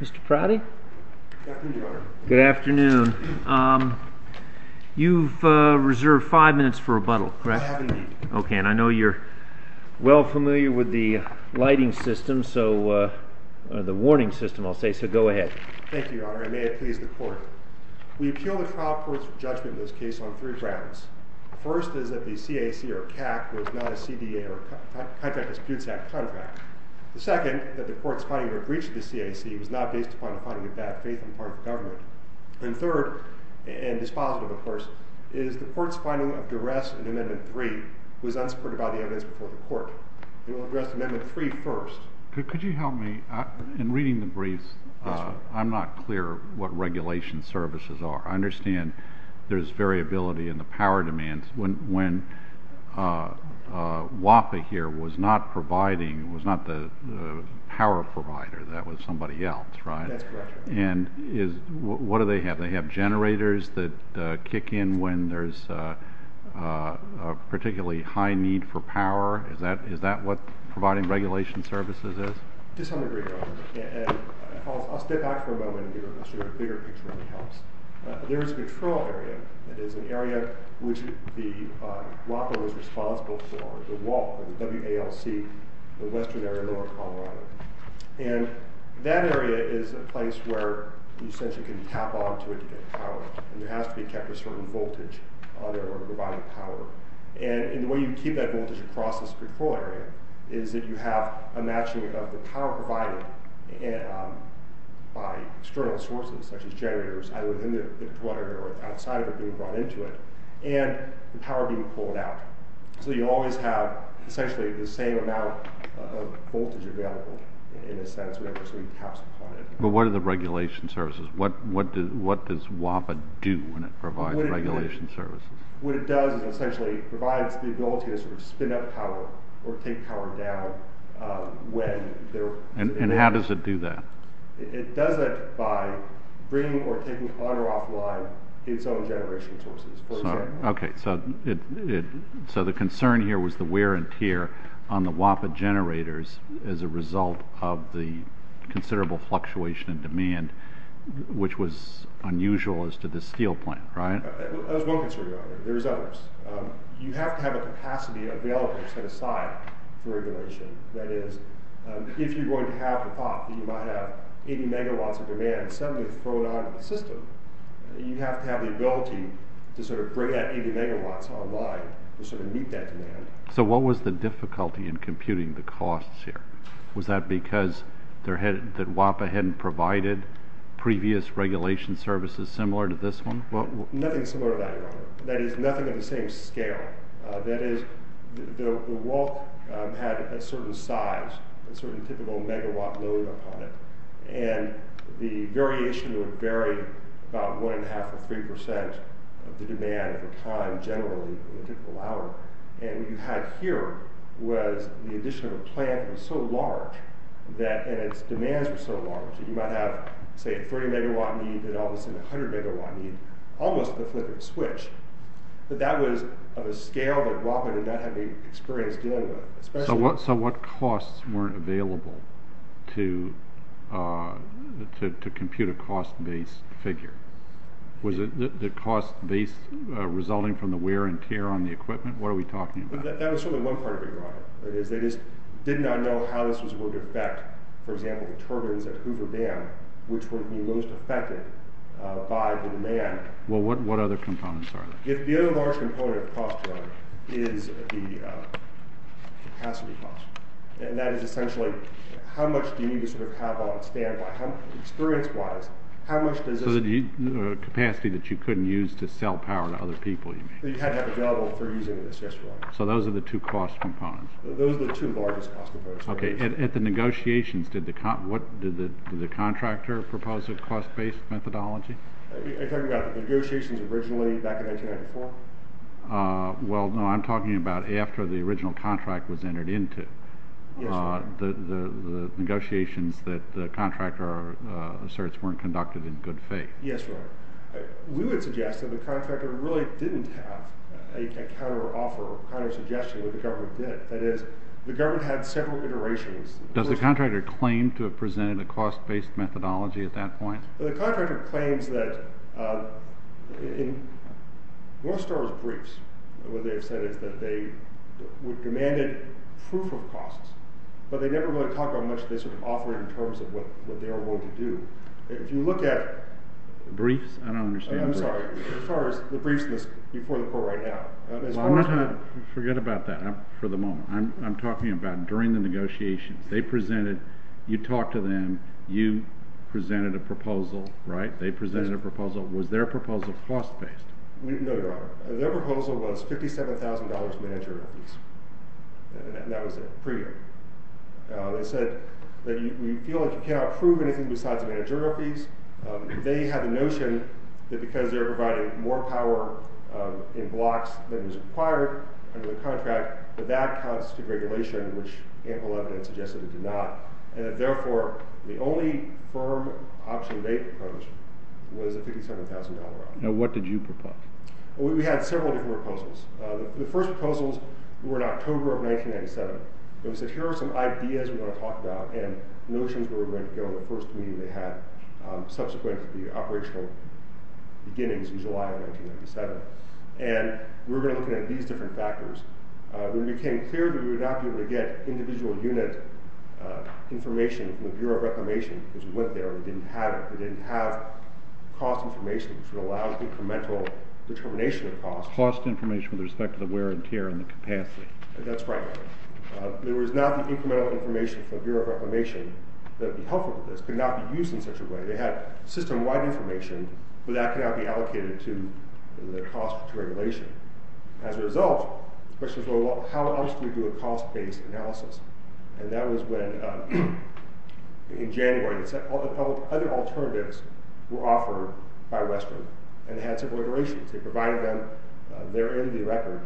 Mr. Prouty? Good afternoon, Your Honor. Good afternoon. You've reserved five minutes for rebuttal, correct? I have indeed. Okay, and I know you're well familiar with the lighting system, or the warning system, I'll say, so go ahead. Thank you, Your Honor. I may have a little bit of judgment in this case on three grounds. First is that the CAC, or CAC, was not a CDA, or Contract Disputes Act, contract. The second, that the Court's finding of a breach of the CAC was not based upon a finding of bad faith on the part of the government. And third, and dispositive, of course, is the Court's finding of duress in Amendment 3 was unsupported by the evidence before the Court. And we'll address Amendment 3 first. Could you help me? In reading the briefs, I'm not clear what regulation services are. I understand there's variability in the power demands when WAPA here was not providing, was not the power provider, that was somebody else, right? That's correct, Your Honor. And what do they have? They have generators that kick in when there's a particularly high need for power. Is that what providing regulation services is? To some degree, Your Honor. I'll step back for a moment, and I'll show you a bigger picture, if that helps. There is a control area, that is an area which the WAPA was responsible for, the WALC, the Western Area of North Colorado. And that area is a place where you essentially can tap onto it to get power. And there has to be kept a certain voltage in order to provide power. And the way you keep that voltage across this control area is that you have a matching of the power provided by external sources, such as generators, either in the water or outside of it being brought into it, and the power being pulled out. So you always have essentially the same amount of voltage available, in a sense, whenever somebody taps upon it. But what are the regulation services? What does WAPA do when it provides regulation services? What it does is it essentially provides the ability to spin up power, or take power down. And how does it do that? It does that by bringing or taking water offline its own generation sources, for example. Okay, so the concern here was the wear and tear on the WAPA generators as a result of the considerable fluctuation in demand, which was unusual as to this steel plant, right? There was one concern about it. There was others. You have to have a capacity available set aside for regulation. That is, if you're going to have a POP, you might have 80 megawatts of demand suddenly thrown onto the system. You have to have the ability to sort of bring that 80 megawatts online to sort of meet that demand. So what was the difficulty in computing the costs here? Was that because WAPA hadn't provided previous regulation services similar to this one? Nothing similar to that, Your Honor. That is, nothing of the same scale. That is, the WALC had a certain size, a certain typical megawatt load upon it. And the variation would vary about one and a half or three percent of the demand at the time generally in a typical hour. And what you had here was the addition of a plant that was so large and its demands were so large that you might have, say, a 30 megawatt need and all of a sudden a 100 megawatt need almost with a flip of a switch. But that was of a scale that WAPA did not have any experience dealing with. So what costs weren't available to compute a cost-based figure? Was it the cost-based resulting from the wear and tear on the equipment? What are we talking about? That was certainly one part of it, Your Honor. That is, they just did not know how this was going to affect, for example, the turbines at Hoover Dam, which would be most affected by the demand. Well, what other components are there? The other large component of cost, Your Honor, is the capacity cost. And that is essentially, how much do you need to have on standby? Experience-wise, how much does this... So the capacity that you couldn't use to sell power to other people, you mean. You had that available for using in this, yes, Your Honor. So those are the two cost components. Those are the two largest cost components. Okay. At the negotiations, did the contractor propose a cost-based methodology? Are you talking about negotiations originally back in 1994? Well, no, I'm talking about after the original contract was entered into. Yes, Your Honor. The negotiations that the contractor asserts weren't conducted in good faith. Yes, Your Honor. We would suggest that the contractor really didn't have a counteroffer or countersuggestion, which the government did. That is, the government had several iterations. Does the contractor claim to have presented a cost-based methodology at that point? Well, the contractor claims that, well, as far as briefs, what they have said is that they would demand proof of costs, but they never really talk about much of this offering in terms of what they are willing to do. If you look at... Briefs? I don't understand briefs. I'm sorry. As far as the briefs in this before the court right now. Well, I'm not going to forget about that for the moment. I'm talking about during the negotiations. They presented, you talked to them, you presented a proposal, right? They presented a proposal. Was their proposal cost-based? No, Your Honor. Their proposal was $57,000 managerial fees, and that was it. They said that we feel like you cannot prove anything besides managerial fees. They had a notion that because they were providing more power in blocks than was required under the contract, that that counts to regulation, which ample evidence suggested it did not, and that, therefore, the only firm option they proposed was a $57,000 offer. Now, what did you propose? Well, we had several different proposals. The first proposals were in October of 1997. It was that here are some ideas we want to talk about and notions we were going to go in the first meeting they had subsequent to the operational beginnings in July of 1997. And we were going to look at these different factors. When it became clear that we would not be able to get individual unit information from the Bureau of Reclamation, because we went there and we didn't have it, we didn't have cost information, which would allow incremental determination of cost. Cost information with respect to the wear and tear and the capacity. That's right. There was not the incremental information from the Bureau of Reclamation that would be helpful for this. It could not be used in such a way. They had system-wide information, but that cannot be allocated to the cost of regulation. As a result, the question was, well, how else do we do a cost-based analysis? And that was when, in January, other alternatives were offered by Western and had several iterations. They provided them. They're in the record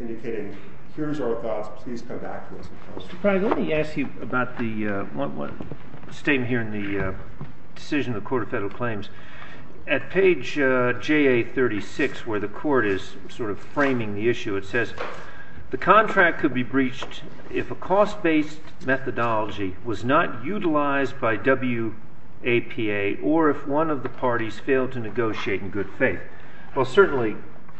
indicating here's our thoughts. Please come back to us. Mr. Craig, let me ask you about the statement here in the decision of the Court of Federal Claims. At page JA36, where the Court is sort of framing the issue, it says, the contract could be breached if a cost-based methodology was not utilized by WAPA or if one of the parties failed to negotiate in good faith. Well, certainly,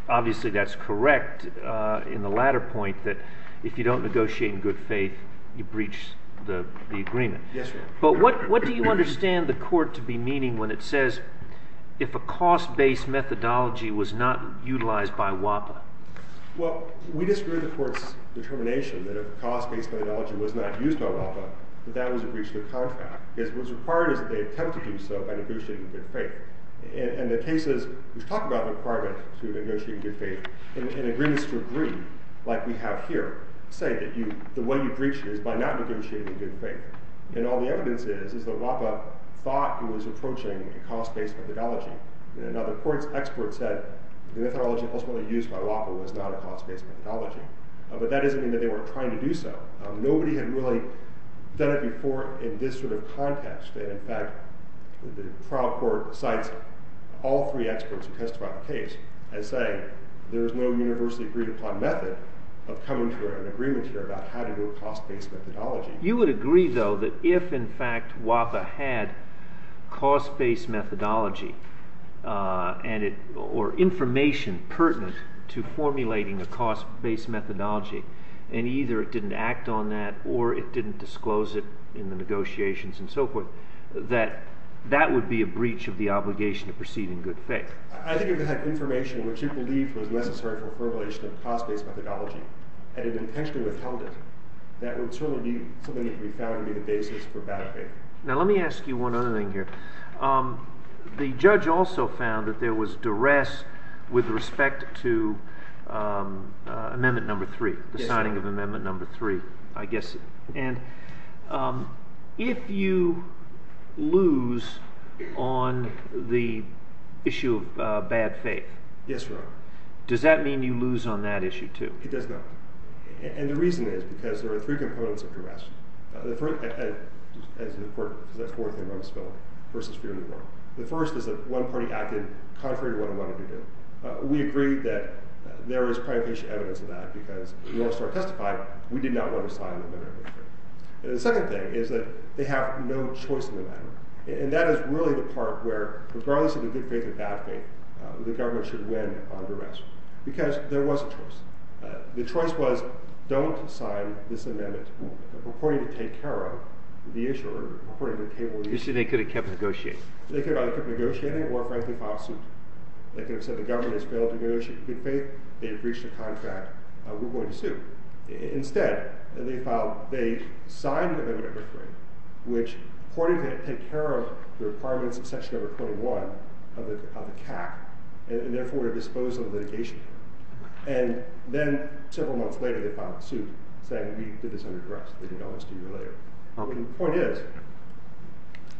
obviously, that's correct in the latter point, that if you don't negotiate in good faith, you breach the agreement. Yes, Your Honor. But what do you understand the Court to be meaning when it says, if a cost-based methodology was not utilized by WAPA? Well, we disagree with the Court's determination that if a cost-based methodology was not used by WAPA, that that was a breach of the contract. Because what's required is that they attempt to do so by negotiating in good faith. And the cases which talk about the requirement to negotiate in good faith and agreements to agree, like we have here, say that the way you breach is by not negotiating in good faith. And all the evidence is is that WAPA thought it was approaching a cost-based methodology. And another Court's expert said the methodology ultimately used by WAPA was not a cost-based methodology. But that doesn't mean that they weren't trying to do so. Nobody had really done it before in this sort of context. In fact, the trial court cites all three experts who testified on the case as saying there is no universally agreed upon method of coming to an agreement here about how to do a cost-based methodology. You would agree, though, that if, in fact, WAPA had cost-based methodology or information pertinent to formulating a cost-based methodology, and either it didn't act on that or it didn't disclose it in the negotiations and so forth, that that would be a breach of the obligation to proceed in good faith. I think if that information, which you believe was necessary for formulation of cost-based methodology, had it intentionally withheld it, that would certainly be something that we found to be the basis for bad faith. Now, let me ask you one other thing here. The judge also found that there was duress with respect to Amendment No. 3, the signing of Amendment No. 3, I guess. And if you lose on the issue of bad faith, does that mean you lose on that issue, too? It does not. And the reason is because there are three components of duress. And it's important, because that's the fourth thing about this bill, versus fear of the law. The first is that one party acted contrary to what it wanted to do. We agree that there is privatization evidence of that, because if you want to start testifying, we did not want to sign Amendment No. 3. And the second thing is that they have no choice in the matter. And that is really the part where, regardless of the good faith or bad faith, the government should win on duress, because there was a choice. The choice was, don't sign this amendment, purporting to take care of the issue, or purporting to take care of the issue. The issue they could have kept negotiating. They could have either kept negotiating or, frankly, filed suit. They could have said, the government has failed to negotiate good faith. They have breached a contract. We're going to sue. Instead, they signed Amendment No. 3, which purported to take care of the requirements of Section No. 21 of the CAC, and therefore would have disposed of the litigation. And then, several months later, they filed a suit, saying, we did this under duress. We can always do it later. The point is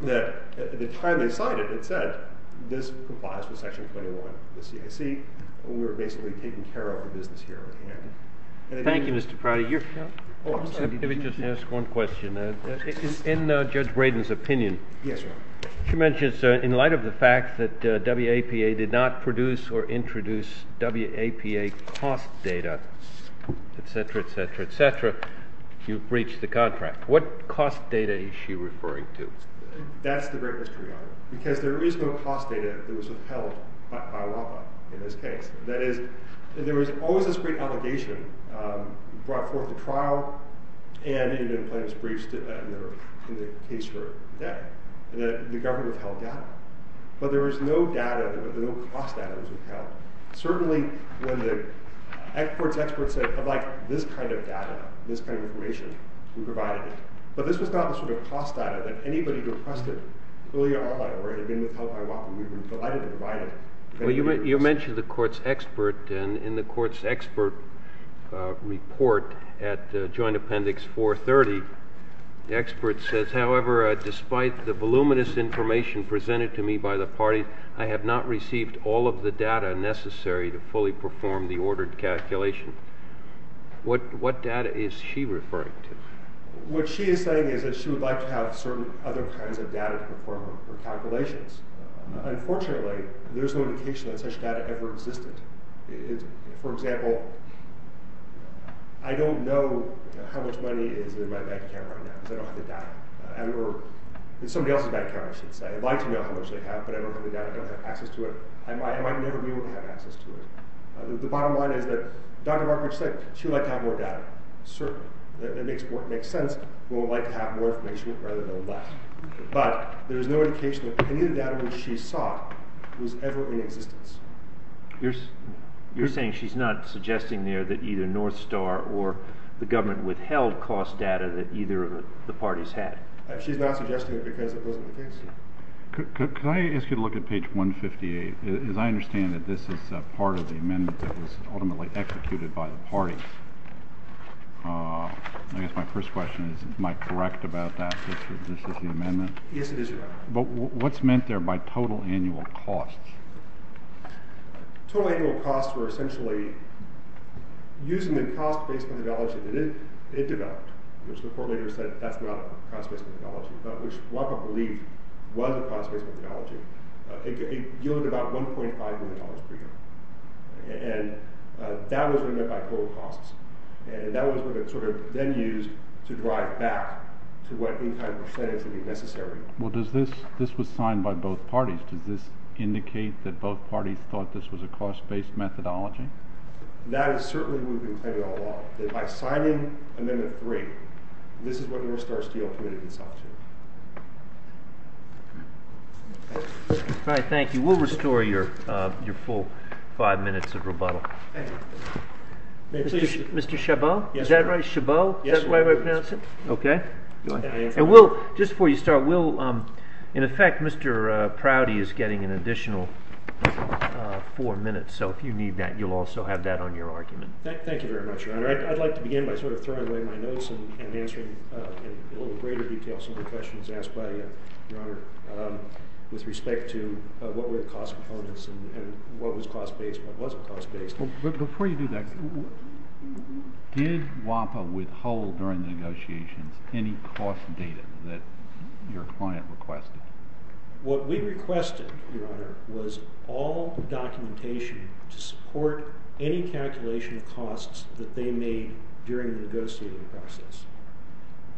that, at the time they signed it, it said, this complies with Section 21 of the CAC. We're basically taking care of the business here at hand. Thank you, Mr. Pratt. Let me just ask one question. In Judge Braden's opinion, she mentions, in light of the fact that WAPA did not produce or introduce WAPA cost data, et cetera, et cetera, et cetera, you breached the contract. What cost data is she referring to? That's the great mystery. Because there is no cost data that was upheld by WAPA in this case. That is, there was always this great allegation brought forth at trial, and it was breached in the case for debt. The government upheld that. But there was no cost data that was upheld. Certainly, when the court's experts said, I'd like this kind of data, this kind of information, we provided it. But this was not the sort of cost data that anybody who requested earlier on that already had been upheld by WAPA. We were delighted to provide it. You mentioned the court's expert. And in the court's expert report at Joint Appendix 430, the expert says, however, despite the voluminous information presented to me by the party, I have not received all of the data necessary to fully perform the ordered calculation. What data is she referring to? What she is saying is that she would like to have certain other kinds of data to perform her calculations. Unfortunately, there's no indication that such data ever existed. For example, I don't know how much money is in my bank account right now because I don't have the data. It's somebody else's bank account, I should say. I'd like to know how much they have, but I don't have the data. I don't have access to it. I might never be able to have access to it. The bottom line is that Dr. Markowitz said she would like to have more data. Certainly. It makes sense. We would like to have more information rather than less. But there is no indication that any of the data which she sought was ever in existence. You're saying she's not suggesting there that either North Star or the government withheld cost data that either of the parties had? She's not suggesting it because it wasn't the case. Could I ask you to look at page 158? As I understand it, this is part of the amendment that was ultimately executed by the parties. I guess my first question is, am I correct about that, that this is the amendment? Yes, it is, Your Honor. But what's meant there by total annual costs? Total annual costs were essentially using the cost-based methodology that it developed, which the court later said that's not a cost-based methodology, which WACA believed was a cost-based methodology. It yielded about $1.5 million per year. And that was what it meant by total costs. And that was what it sort of then used to drive back to what in-kind percentage would be necessary. Well, this was signed by both parties. Does this indicate that both parties thought this was a cost-based methodology? That is certainly what we've been claiming all along, that by signing Amendment 3, this is what North Star Steel committed itself to. All right, thank you. We'll restore your full five minutes of rebuttal. Thank you. Mr. Chabot? Yes, sir. Is that right, Chabot? Yes, sir. Is that the right way to pronounce it? Okay. Go ahead. Just before you start, in effect, Mr. Prouty is getting an additional four minutes. So if you need that, you'll also have that on your argument. Thank you very much, Your Honor. I'd like to begin by sort of throwing away my notes and answering in a little greater detail some of the questions asked by you, Your Honor, with respect to what were the cost components and what was cost-based and what wasn't cost-based. But before you do that, did WAPA withhold during the negotiations any cost data that your client requested? What we requested, Your Honor, was all documentation to support any calculation of costs that they made during the negotiating process.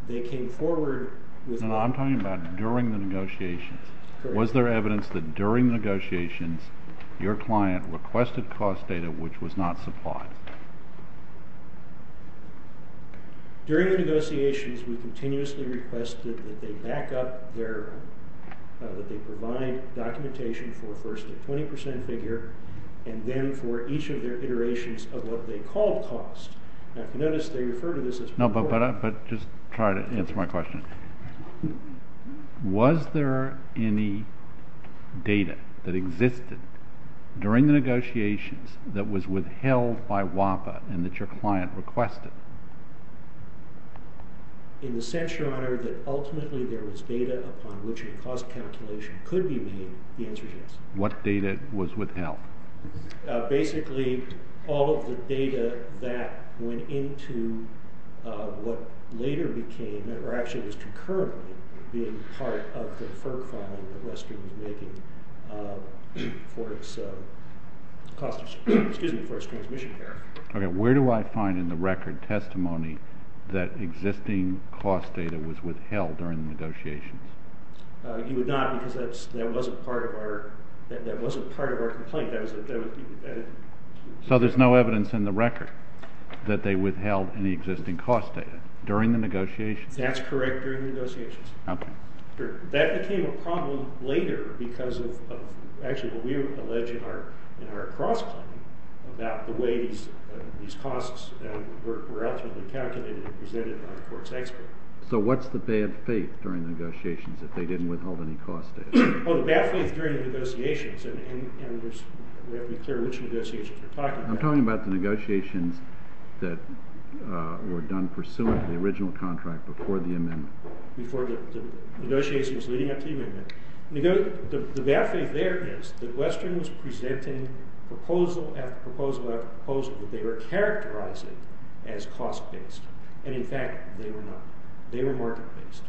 They came forward with— No, I'm talking about during the negotiations. Correct. Was there evidence that during negotiations your client requested cost data which was not supplied? During the negotiations, we continuously requested that they back up their—that they provide documentation for first a 20 percent figure and then for each of their iterations of what they called cost. Now, if you notice, they refer to this as— No, but just try to answer my question. Was there any data that existed during the negotiations that was withheld by WAPA and that your client requested? In the sense, Your Honor, that ultimately there was data upon which a cost calculation could be made, the answer is yes. What data was withheld? Basically, all of the data that went into what later became—or actually was concurrently being part of the FERC filing that Western was making for its cost— excuse me, for its transmission. Okay, where do I find in the record testimony that existing cost data was withheld during the negotiations? You would not because that wasn't part of our complaint. So there's no evidence in the record that they withheld any existing cost data during the negotiations? That's correct during the negotiations. Okay. That became a problem later because of—actually, what we allege in our cross-claim about the ways these costs were ultimately calculated and presented by the court's expert. So what's the bad faith during the negotiations that they didn't withhold any cost data? Oh, the bad faith during the negotiations, and we have to be clear which negotiations you're talking about. I'm talking about the negotiations that were done pursuant to the original contract before the amendment. The bad faith there is that Western was presenting proposal after proposal after proposal that they were characterizing as cost-based, and in fact, they were not. They were market-based.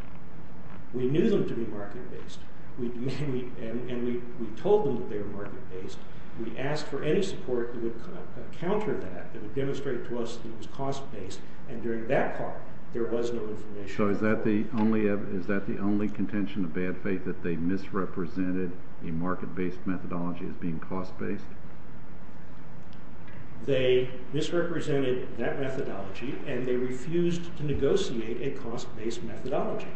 We knew them to be market-based, and we told them that they were market-based. We asked for any support that would counter that, that would demonstrate to us that it was cost-based, and during that part, there was no information. So is that the only contention of bad faith, that they misrepresented a market-based methodology as being cost-based? They misrepresented that methodology, and they refused to negotiate a cost-based methodology.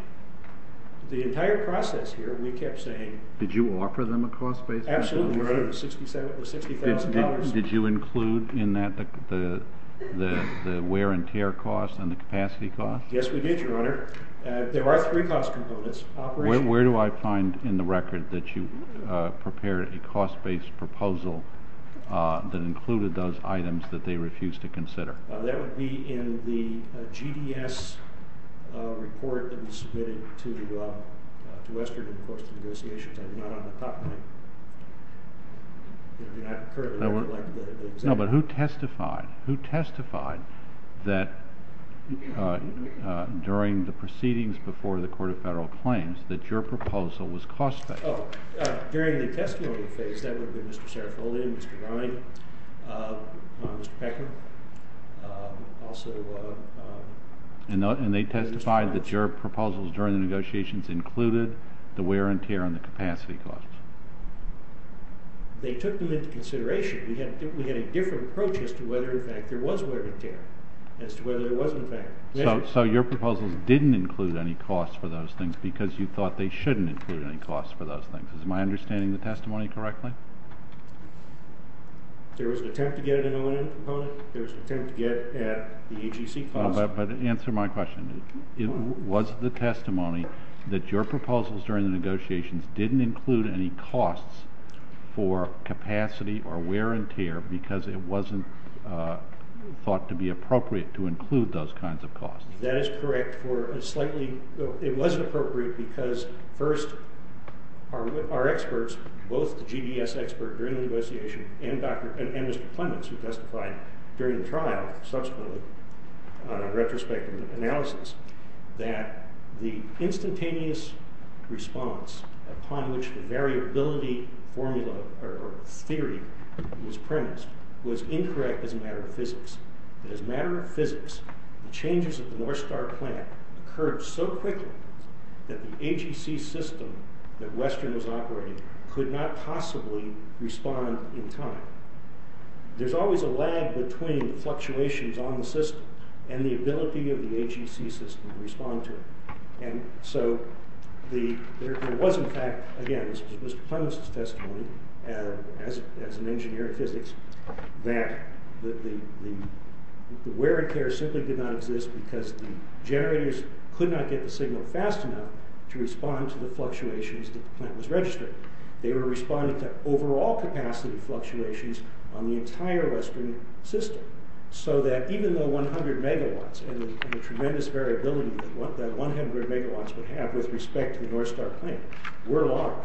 The entire process here, we kept saying— Did you offer them a cost-based methodology? Absolutely, Your Honor. It was $60,000. Did you include in that the wear and tear cost and the capacity cost? Yes, we did, Your Honor. There are three cost components. Where do I find in the record that you prepared a cost-based proposal that included those items that they refused to consider? That would be in the GDS report that was submitted to Western, of course, to negotiations. I'm not on the top line. No, but who testified? Who testified that during the proceedings before the Court of Federal Claims that your proposal was cost-based? During the testimony phase, that would have been Mr. Serafolian, Mr. Brine, Mr. Pecker, also— And they testified that your proposals during the negotiations included the wear and tear and the capacity costs. They took them into consideration. We had a different approach as to whether, in fact, there was wear and tear, as to whether there was, in fact, measurement. So your proposals didn't include any costs for those things because you thought they shouldn't include any costs for those things. Am I understanding the testimony correctly? There was an attempt to get an O&M component. There was an attempt to get at the AGC cost. But answer my question. Was the testimony that your proposals during the negotiations didn't include any costs for capacity or wear and tear because it wasn't thought to be appropriate to include those kinds of costs? That is correct for a slightly— It wasn't appropriate because, first, our experts, both the GDS expert during the negotiation and Mr. Plemons, who testified during the trial, subsequently, on a retrospective analysis, that the instantaneous response upon which the variability formula or theory was premised was incorrect as a matter of physics. As a matter of physics, the changes at the North Star plant occurred so quickly that the AGC system that Western was operating could not possibly respond in time. There's always a lag between fluctuations on the system and the ability of the AGC system to respond to it. And so there was, in fact—again, this was Mr. Plemons' testimony as an engineer in physics— that the wear and tear simply did not exist because the generators could not get the signal fast enough to respond to the fluctuations that the plant was registering. They were responding to overall capacity fluctuations on the entire Western system. So that even though 100 megawatts and the tremendous variability that 100 megawatts would have with respect to the North Star plant were large,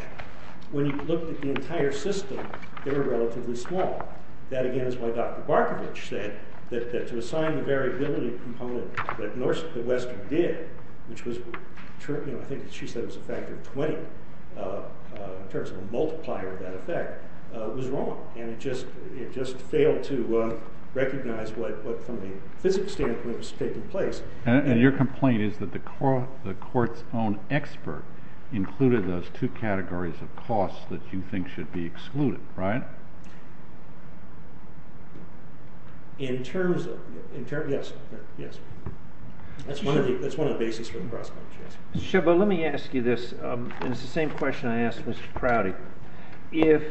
when you looked at the entire system, they were relatively small. That, again, is why Dr. Barkovich said that to assign the variability component that Western did, which I think she said was a factor of 20 in terms of a multiplier of that effect, was wrong. And it just failed to recognize what, from the physics standpoint, was taking place. And your complaint is that the court's own expert included those two categories of costs that you think should be excluded, right? In terms of—yes, yes. That's one of the bases for cross-conflict, yes. Mr. Sheva, let me ask you this, and it's the same question I asked Mr. Prouty. If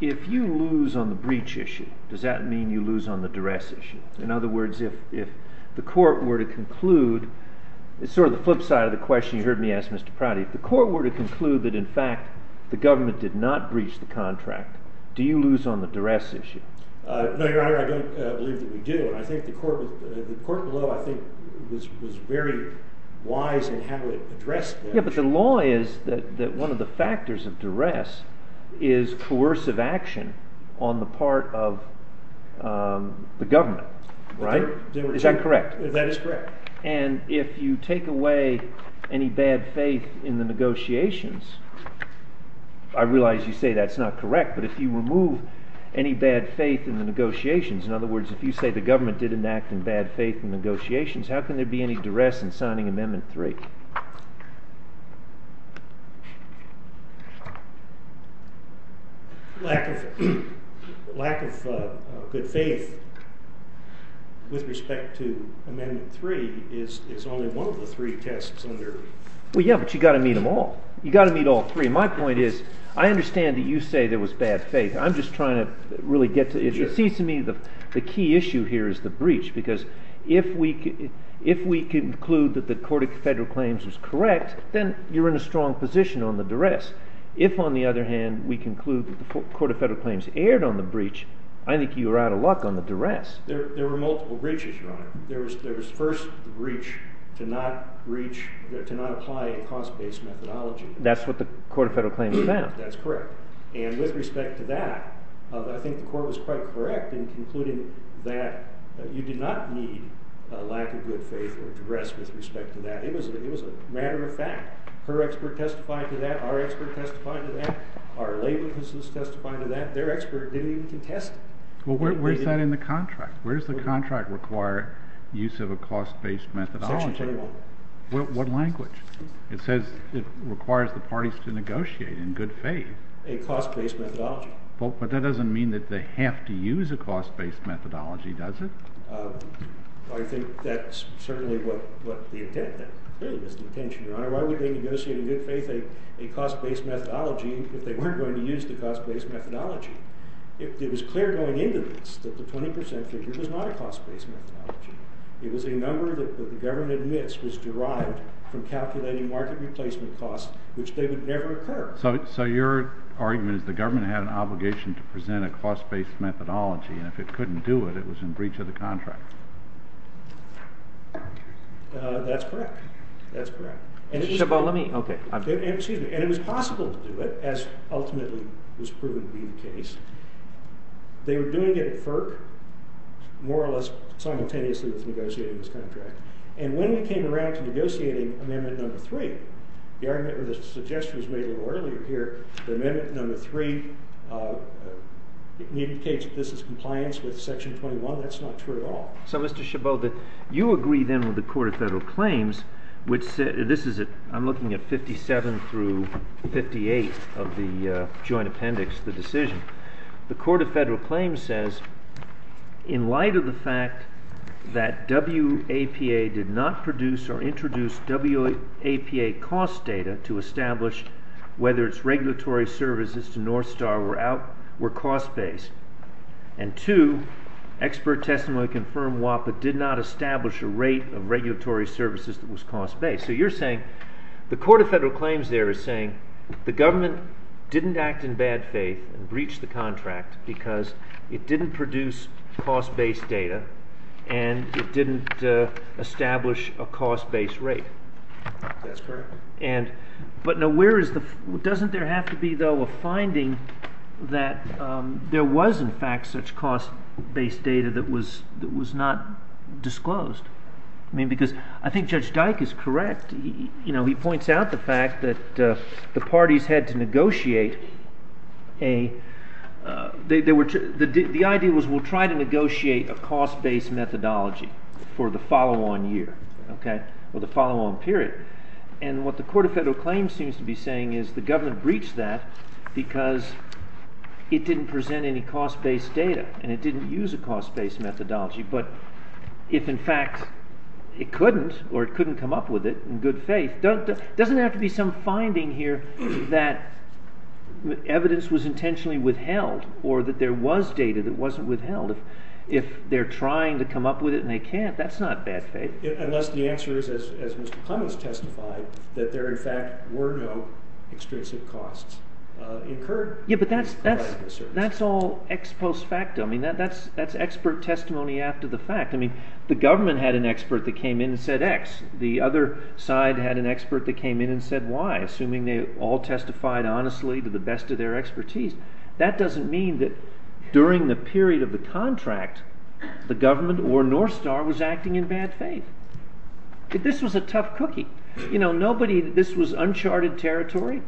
you lose on the breach issue, does that mean you lose on the duress issue? In other words, if the court were to conclude—it's sort of the flip side of the question you heard me ask, Mr. Prouty. If the court were to conclude that, in fact, the government did not breach the contract, do you lose on the duress issue? No, Your Honor, I don't believe that we do, and I think the court below was very wise in how it addressed that. Yeah, but the law is that one of the factors of duress is coercive action on the part of the government, right? Is that correct? That is correct. And if you take away any bad faith in the negotiations—I realize you say that's not correct, but if you remove any bad faith in the negotiations, in other words, if you say the government did enact in bad faith in negotiations, how can there be any duress in signing Amendment 3? Lack of good faith with respect to Amendment 3 is only one of the three tests under— Well, yeah, but you've got to meet them all. You've got to meet all three. My point is I understand that you say there was bad faith. I'm just trying to really get to—it seems to me the key issue here is the breach, because if we conclude that the Court of Federal Claims was correct, then you're in a strong position on the duress. If, on the other hand, we conclude that the Court of Federal Claims erred on the breach, I think you were out of luck on the duress. There were multiple breaches, Your Honor. There was first the breach to not apply a cost-based methodology. That's what the Court of Federal Claims found. That's correct. And with respect to that, I think the Court was quite correct in concluding that you did not need lack of good faith or duress with respect to that. It was a matter of fact. Her expert testified to that. Our expert testified to that. Our labor business testified to that. Their expert didn't even contest it. Well, where's that in the contract? Where does the contract require use of a cost-based methodology? Section 21. What language? It says it requires the parties to negotiate in good faith. A cost-based methodology. But that doesn't mean that they have to use a cost-based methodology, does it? Well, I think that's certainly what the intent, that clearly was the intention, Your Honor. Why would they negotiate in good faith a cost-based methodology if they weren't going to use the cost-based methodology? It was clear going into this that the 20 percent figure was not a cost-based methodology. It was a number that the government admits was derived from calculating market replacement costs, which they would never incur. So your argument is the government had an obligation to present a cost-based methodology, and if it couldn't do it, it was in breach of the contract. That's correct. That's correct. And it was possible to do it, as ultimately was proven to be the case. They were doing it at FERC, more or less simultaneously with negotiating this contract. And when we came around to negotiating Amendment No. 3, the argument or the suggestion was made a little earlier here, that Amendment No. 3 indicates that this is compliance with Section 21. That's not true at all. So, Mr. Chabot, you agree then with the Court of Federal Claims, which I'm looking at 57 through 58 of the joint appendix, the decision. The Court of Federal Claims says, in light of the fact that WAPA did not produce or introduce WAPA cost data to establish whether its regulatory services to Northstar were cost-based, and two, expert testimony confirmed WAPA did not establish a rate of regulatory services that was cost-based. So you're saying the Court of Federal Claims there is saying the government didn't act in bad faith and breach the contract because it didn't produce cost-based data and it didn't establish a cost-based rate. That's correct. But doesn't there have to be, though, a finding that there was, in fact, such cost-based data that was not disclosed? I mean, because I think Judge Dyke is correct. He points out the fact that the parties had to negotiate a—the idea was we'll try to negotiate a cost-based methodology for the follow-on year or the follow-on period. And what the Court of Federal Claims seems to be saying is the government breached that because it didn't present any cost-based data and it didn't use a cost-based methodology. But if, in fact, it couldn't or it couldn't come up with it in good faith, doesn't there have to be some finding here that evidence was intentionally withheld or that there was data that wasn't withheld? If they're trying to come up with it and they can't, that's not bad faith. Unless the answer is, as Mr. Clements testified, that there, in fact, were no extrinsic costs incurred. Yeah, but that's all ex post facto. I mean, that's expert testimony after the fact. I mean, the government had an expert that came in and said X. The other side had an expert that came in and said Y, assuming they all testified honestly to the best of their expertise. That doesn't mean that during the period of the contract, the government or North Star was acting in bad faith. This was a tough cookie. You know, nobody – this was uncharted territory.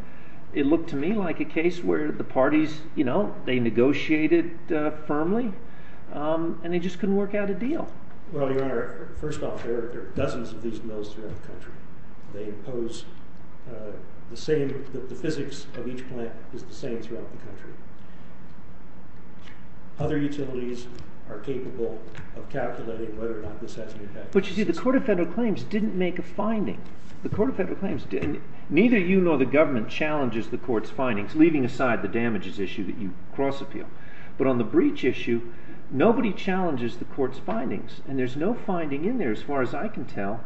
It looked to me like a case where the parties, you know, they negotiated firmly and they just couldn't work out a deal. Well, Your Honor, first off, there are dozens of these bills throughout the country. They impose the same – the physics of each plant is the same throughout the country. Other utilities are capable of calculating whether or not this has any effect. But you see, the Court of Federal Claims didn't make a finding. The Court of Federal Claims didn't. Neither you nor the government challenges the Court's findings, leaving aside the damages issue that you cross-appeal. And there's no finding in there, as far as I can tell,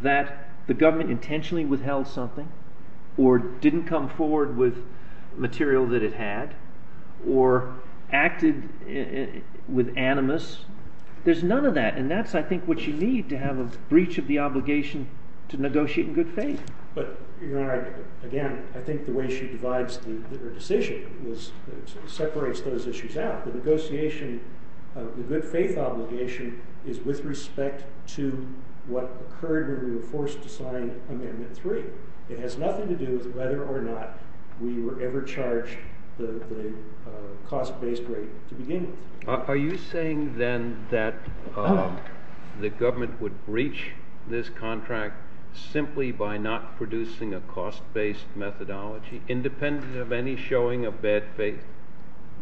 that the government intentionally withheld something or didn't come forward with material that it had or acted with animus. There's none of that. And that's, I think, what you need to have a breach of the obligation to negotiate in good faith. But, Your Honor, again, I think the way she divides her decision was – separates those issues out. The negotiation of the good faith obligation is with respect to what occurred when we were forced to sign Amendment 3. It has nothing to do with whether or not we were ever charged the cost-based rate to begin with. Are you saying, then, that the government would breach this contract simply by not producing a cost-based methodology, independent of any showing of bad faith?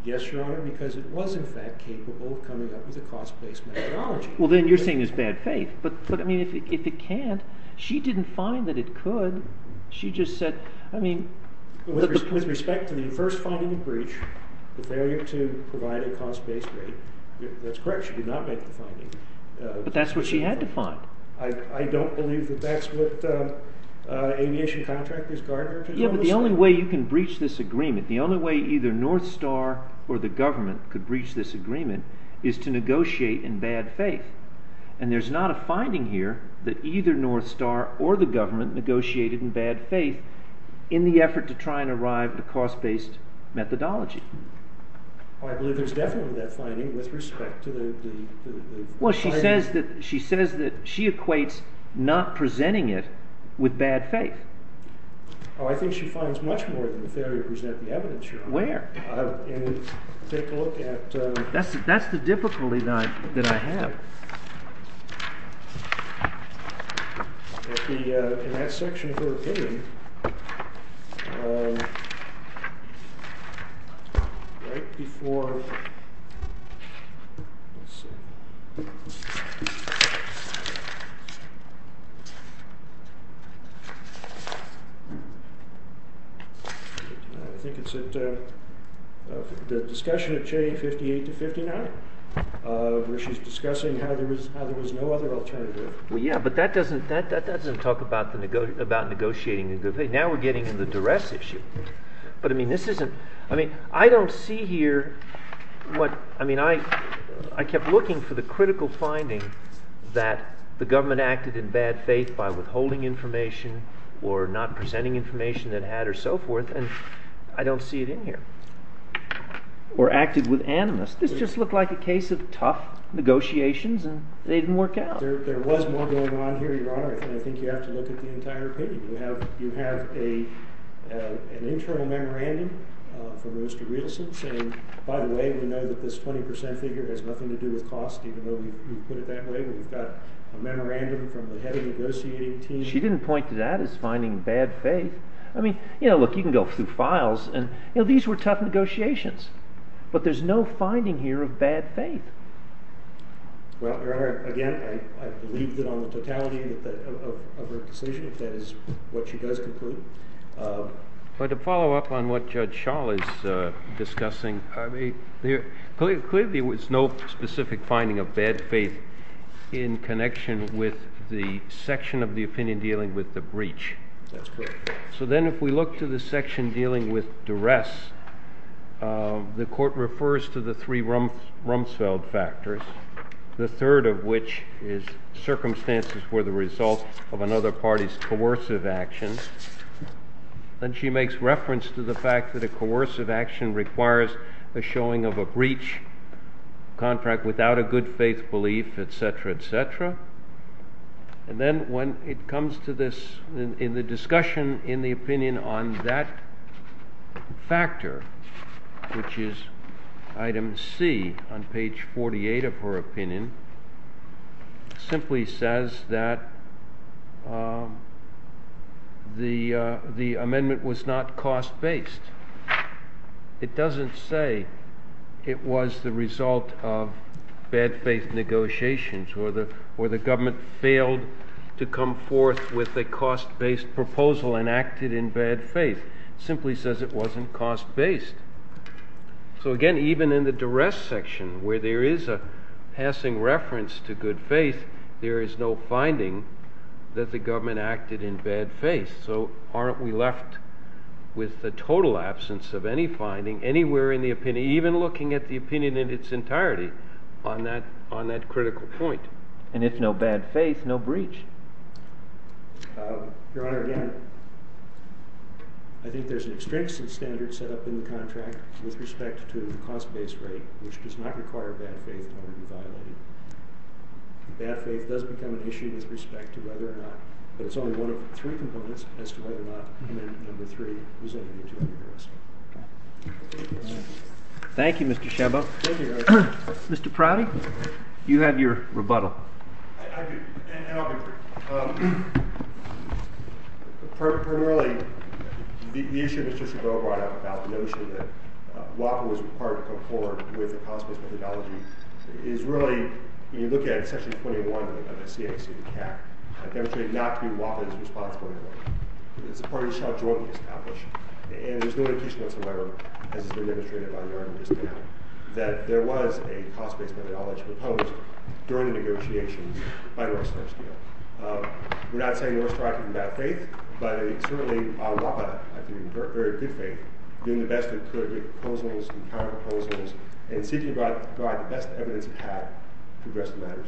Yes, Your Honor, because it was, in fact, capable of coming up with a cost-based methodology. Well, then, you're saying there's bad faith. But, I mean, if it can't – she didn't find that it could. She just said – I mean – With respect to the first finding of breach, the failure to provide a cost-based rate, that's correct. She did not make the finding. But that's what she had to find. I don't believe that that's what aviation contractors, guard workers – Yeah, but the only way you can breach this agreement, the only way either North Star or the government could breach this agreement is to negotiate in bad faith. And there's not a finding here that either North Star or the government negotiated in bad faith in the effort to try and arrive at a cost-based methodology. Well, I believe there's definitely that finding with respect to the finding. Well, she says that she equates not presenting it with bad faith. Oh, I think she finds much more than the failure to present the evidence here. Where? Take a look at – That's the difficulty that I have. In that section of her opinion, right before – I think it's at the discussion of J58-59 where she's discussing how there was no other alternative. Well, yeah, but that doesn't talk about negotiating in good faith. Now we're getting into the duress issue. But, I mean, this isn't – I mean, I don't see here what – I mean, I kept looking for the critical finding that the government acted in bad faith by withholding information or not presenting information that it had or so forth, and I don't see it in here. Or acted with animus. This just looked like a case of tough negotiations, and they didn't work out. There was more going on here, Your Honor. I think you have to look at the entire page. You have an internal memorandum from Rooster Rielsen saying, by the way, we know that this 20 percent figure has nothing to do with cost, even though we put it that way. We've got a memorandum from the head of the negotiating team. She didn't point to that as finding bad faith. I mean, you know, look, you can go through files, and, you know, these were tough negotiations. But there's no finding here of bad faith. Well, Your Honor, again, I believe that on the totality of her decision that is what she does conclude. But to follow up on what Judge Schall is discussing, I mean, clearly there was no specific finding of bad faith in connection with the section of the opinion dealing with the breach. That's correct. So then if we look to the section dealing with duress, the court refers to the three Rumsfeld factors, the third of which is circumstances for the result of another party's coercive actions. Then she makes reference to the fact that a coercive action requires the showing of a breach contract without a good faith belief, et cetera, et cetera. And then when it comes to this in the discussion in the opinion on that factor, which is item C on page 48 of her opinion, simply says that the amendment was not cost-based. It doesn't say it was the result of bad faith negotiations or the government failed to come forth with a cost-based proposal and acted in bad faith. It simply says it wasn't cost-based. So, again, even in the duress section where there is a passing reference to good faith, there is no finding that the government acted in bad faith. So aren't we left with the total absence of any finding anywhere in the opinion, even looking at the opinion in its entirety on that critical point? And it's no bad faith, no breach. Your Honor, again, I think there's an extrinsic standard set up in the contract with respect to the cost-based rate, which does not require bad faith to be violated. Bad faith does become an issue with respect to whether or not, but it's only one of three components as to whether or not amendment number three was a utility arrest. Thank you, Mr. Shebo. Thank you, Your Honor. Mr. Prouty, you have your rebuttal. I do, and I'll be brief. Primarily, the issue that Mr. Shebo brought up about the notion that WAPA was required to come forward with a cost-based methodology is really, when you look at Section 21 of the CAC, it demonstrated not to be WAPA's responsibility. It's a party that shall jointly establish, and there's no indication whatsoever, as has been demonstrated by Your Honor just now, that there was a cost-based methodology proposed during the negotiations by North Star Steel. We're not saying North Star had bad faith, but certainly WAPA, I think, in very good faith, doing the best it could with proposals and counter-proposals and seeking to provide the best evidence it had to address the matters.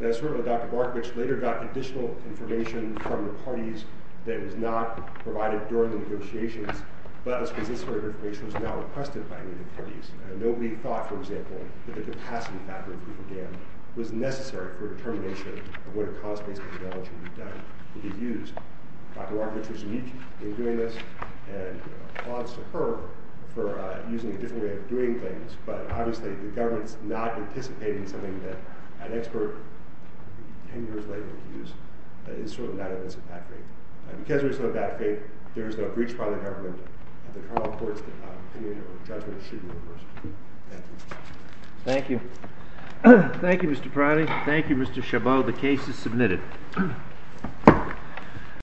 And certainly, Dr. Bartovich later got additional information from the parties that was not provided during the negotiations, but it was because this sort of information was not requested by any of the parties. Nobody thought, for example, that the capacity factor that we began was necessary for determination of what a cost-based methodology would be used. Dr. Bartovich was unique in doing this, and applause to her for using a different way of doing things, but obviously the government's not anticipating something that an expert 10 years later would use. It's sort of not evidence of bad faith. Because there is no bad faith, there is no breach by the government of the criminal court's opinion or judgment of shooting of a person. Thank you. Thank you. Thank you, Mr. Priority. Thank you, Mr. Chabot. The case is submitted.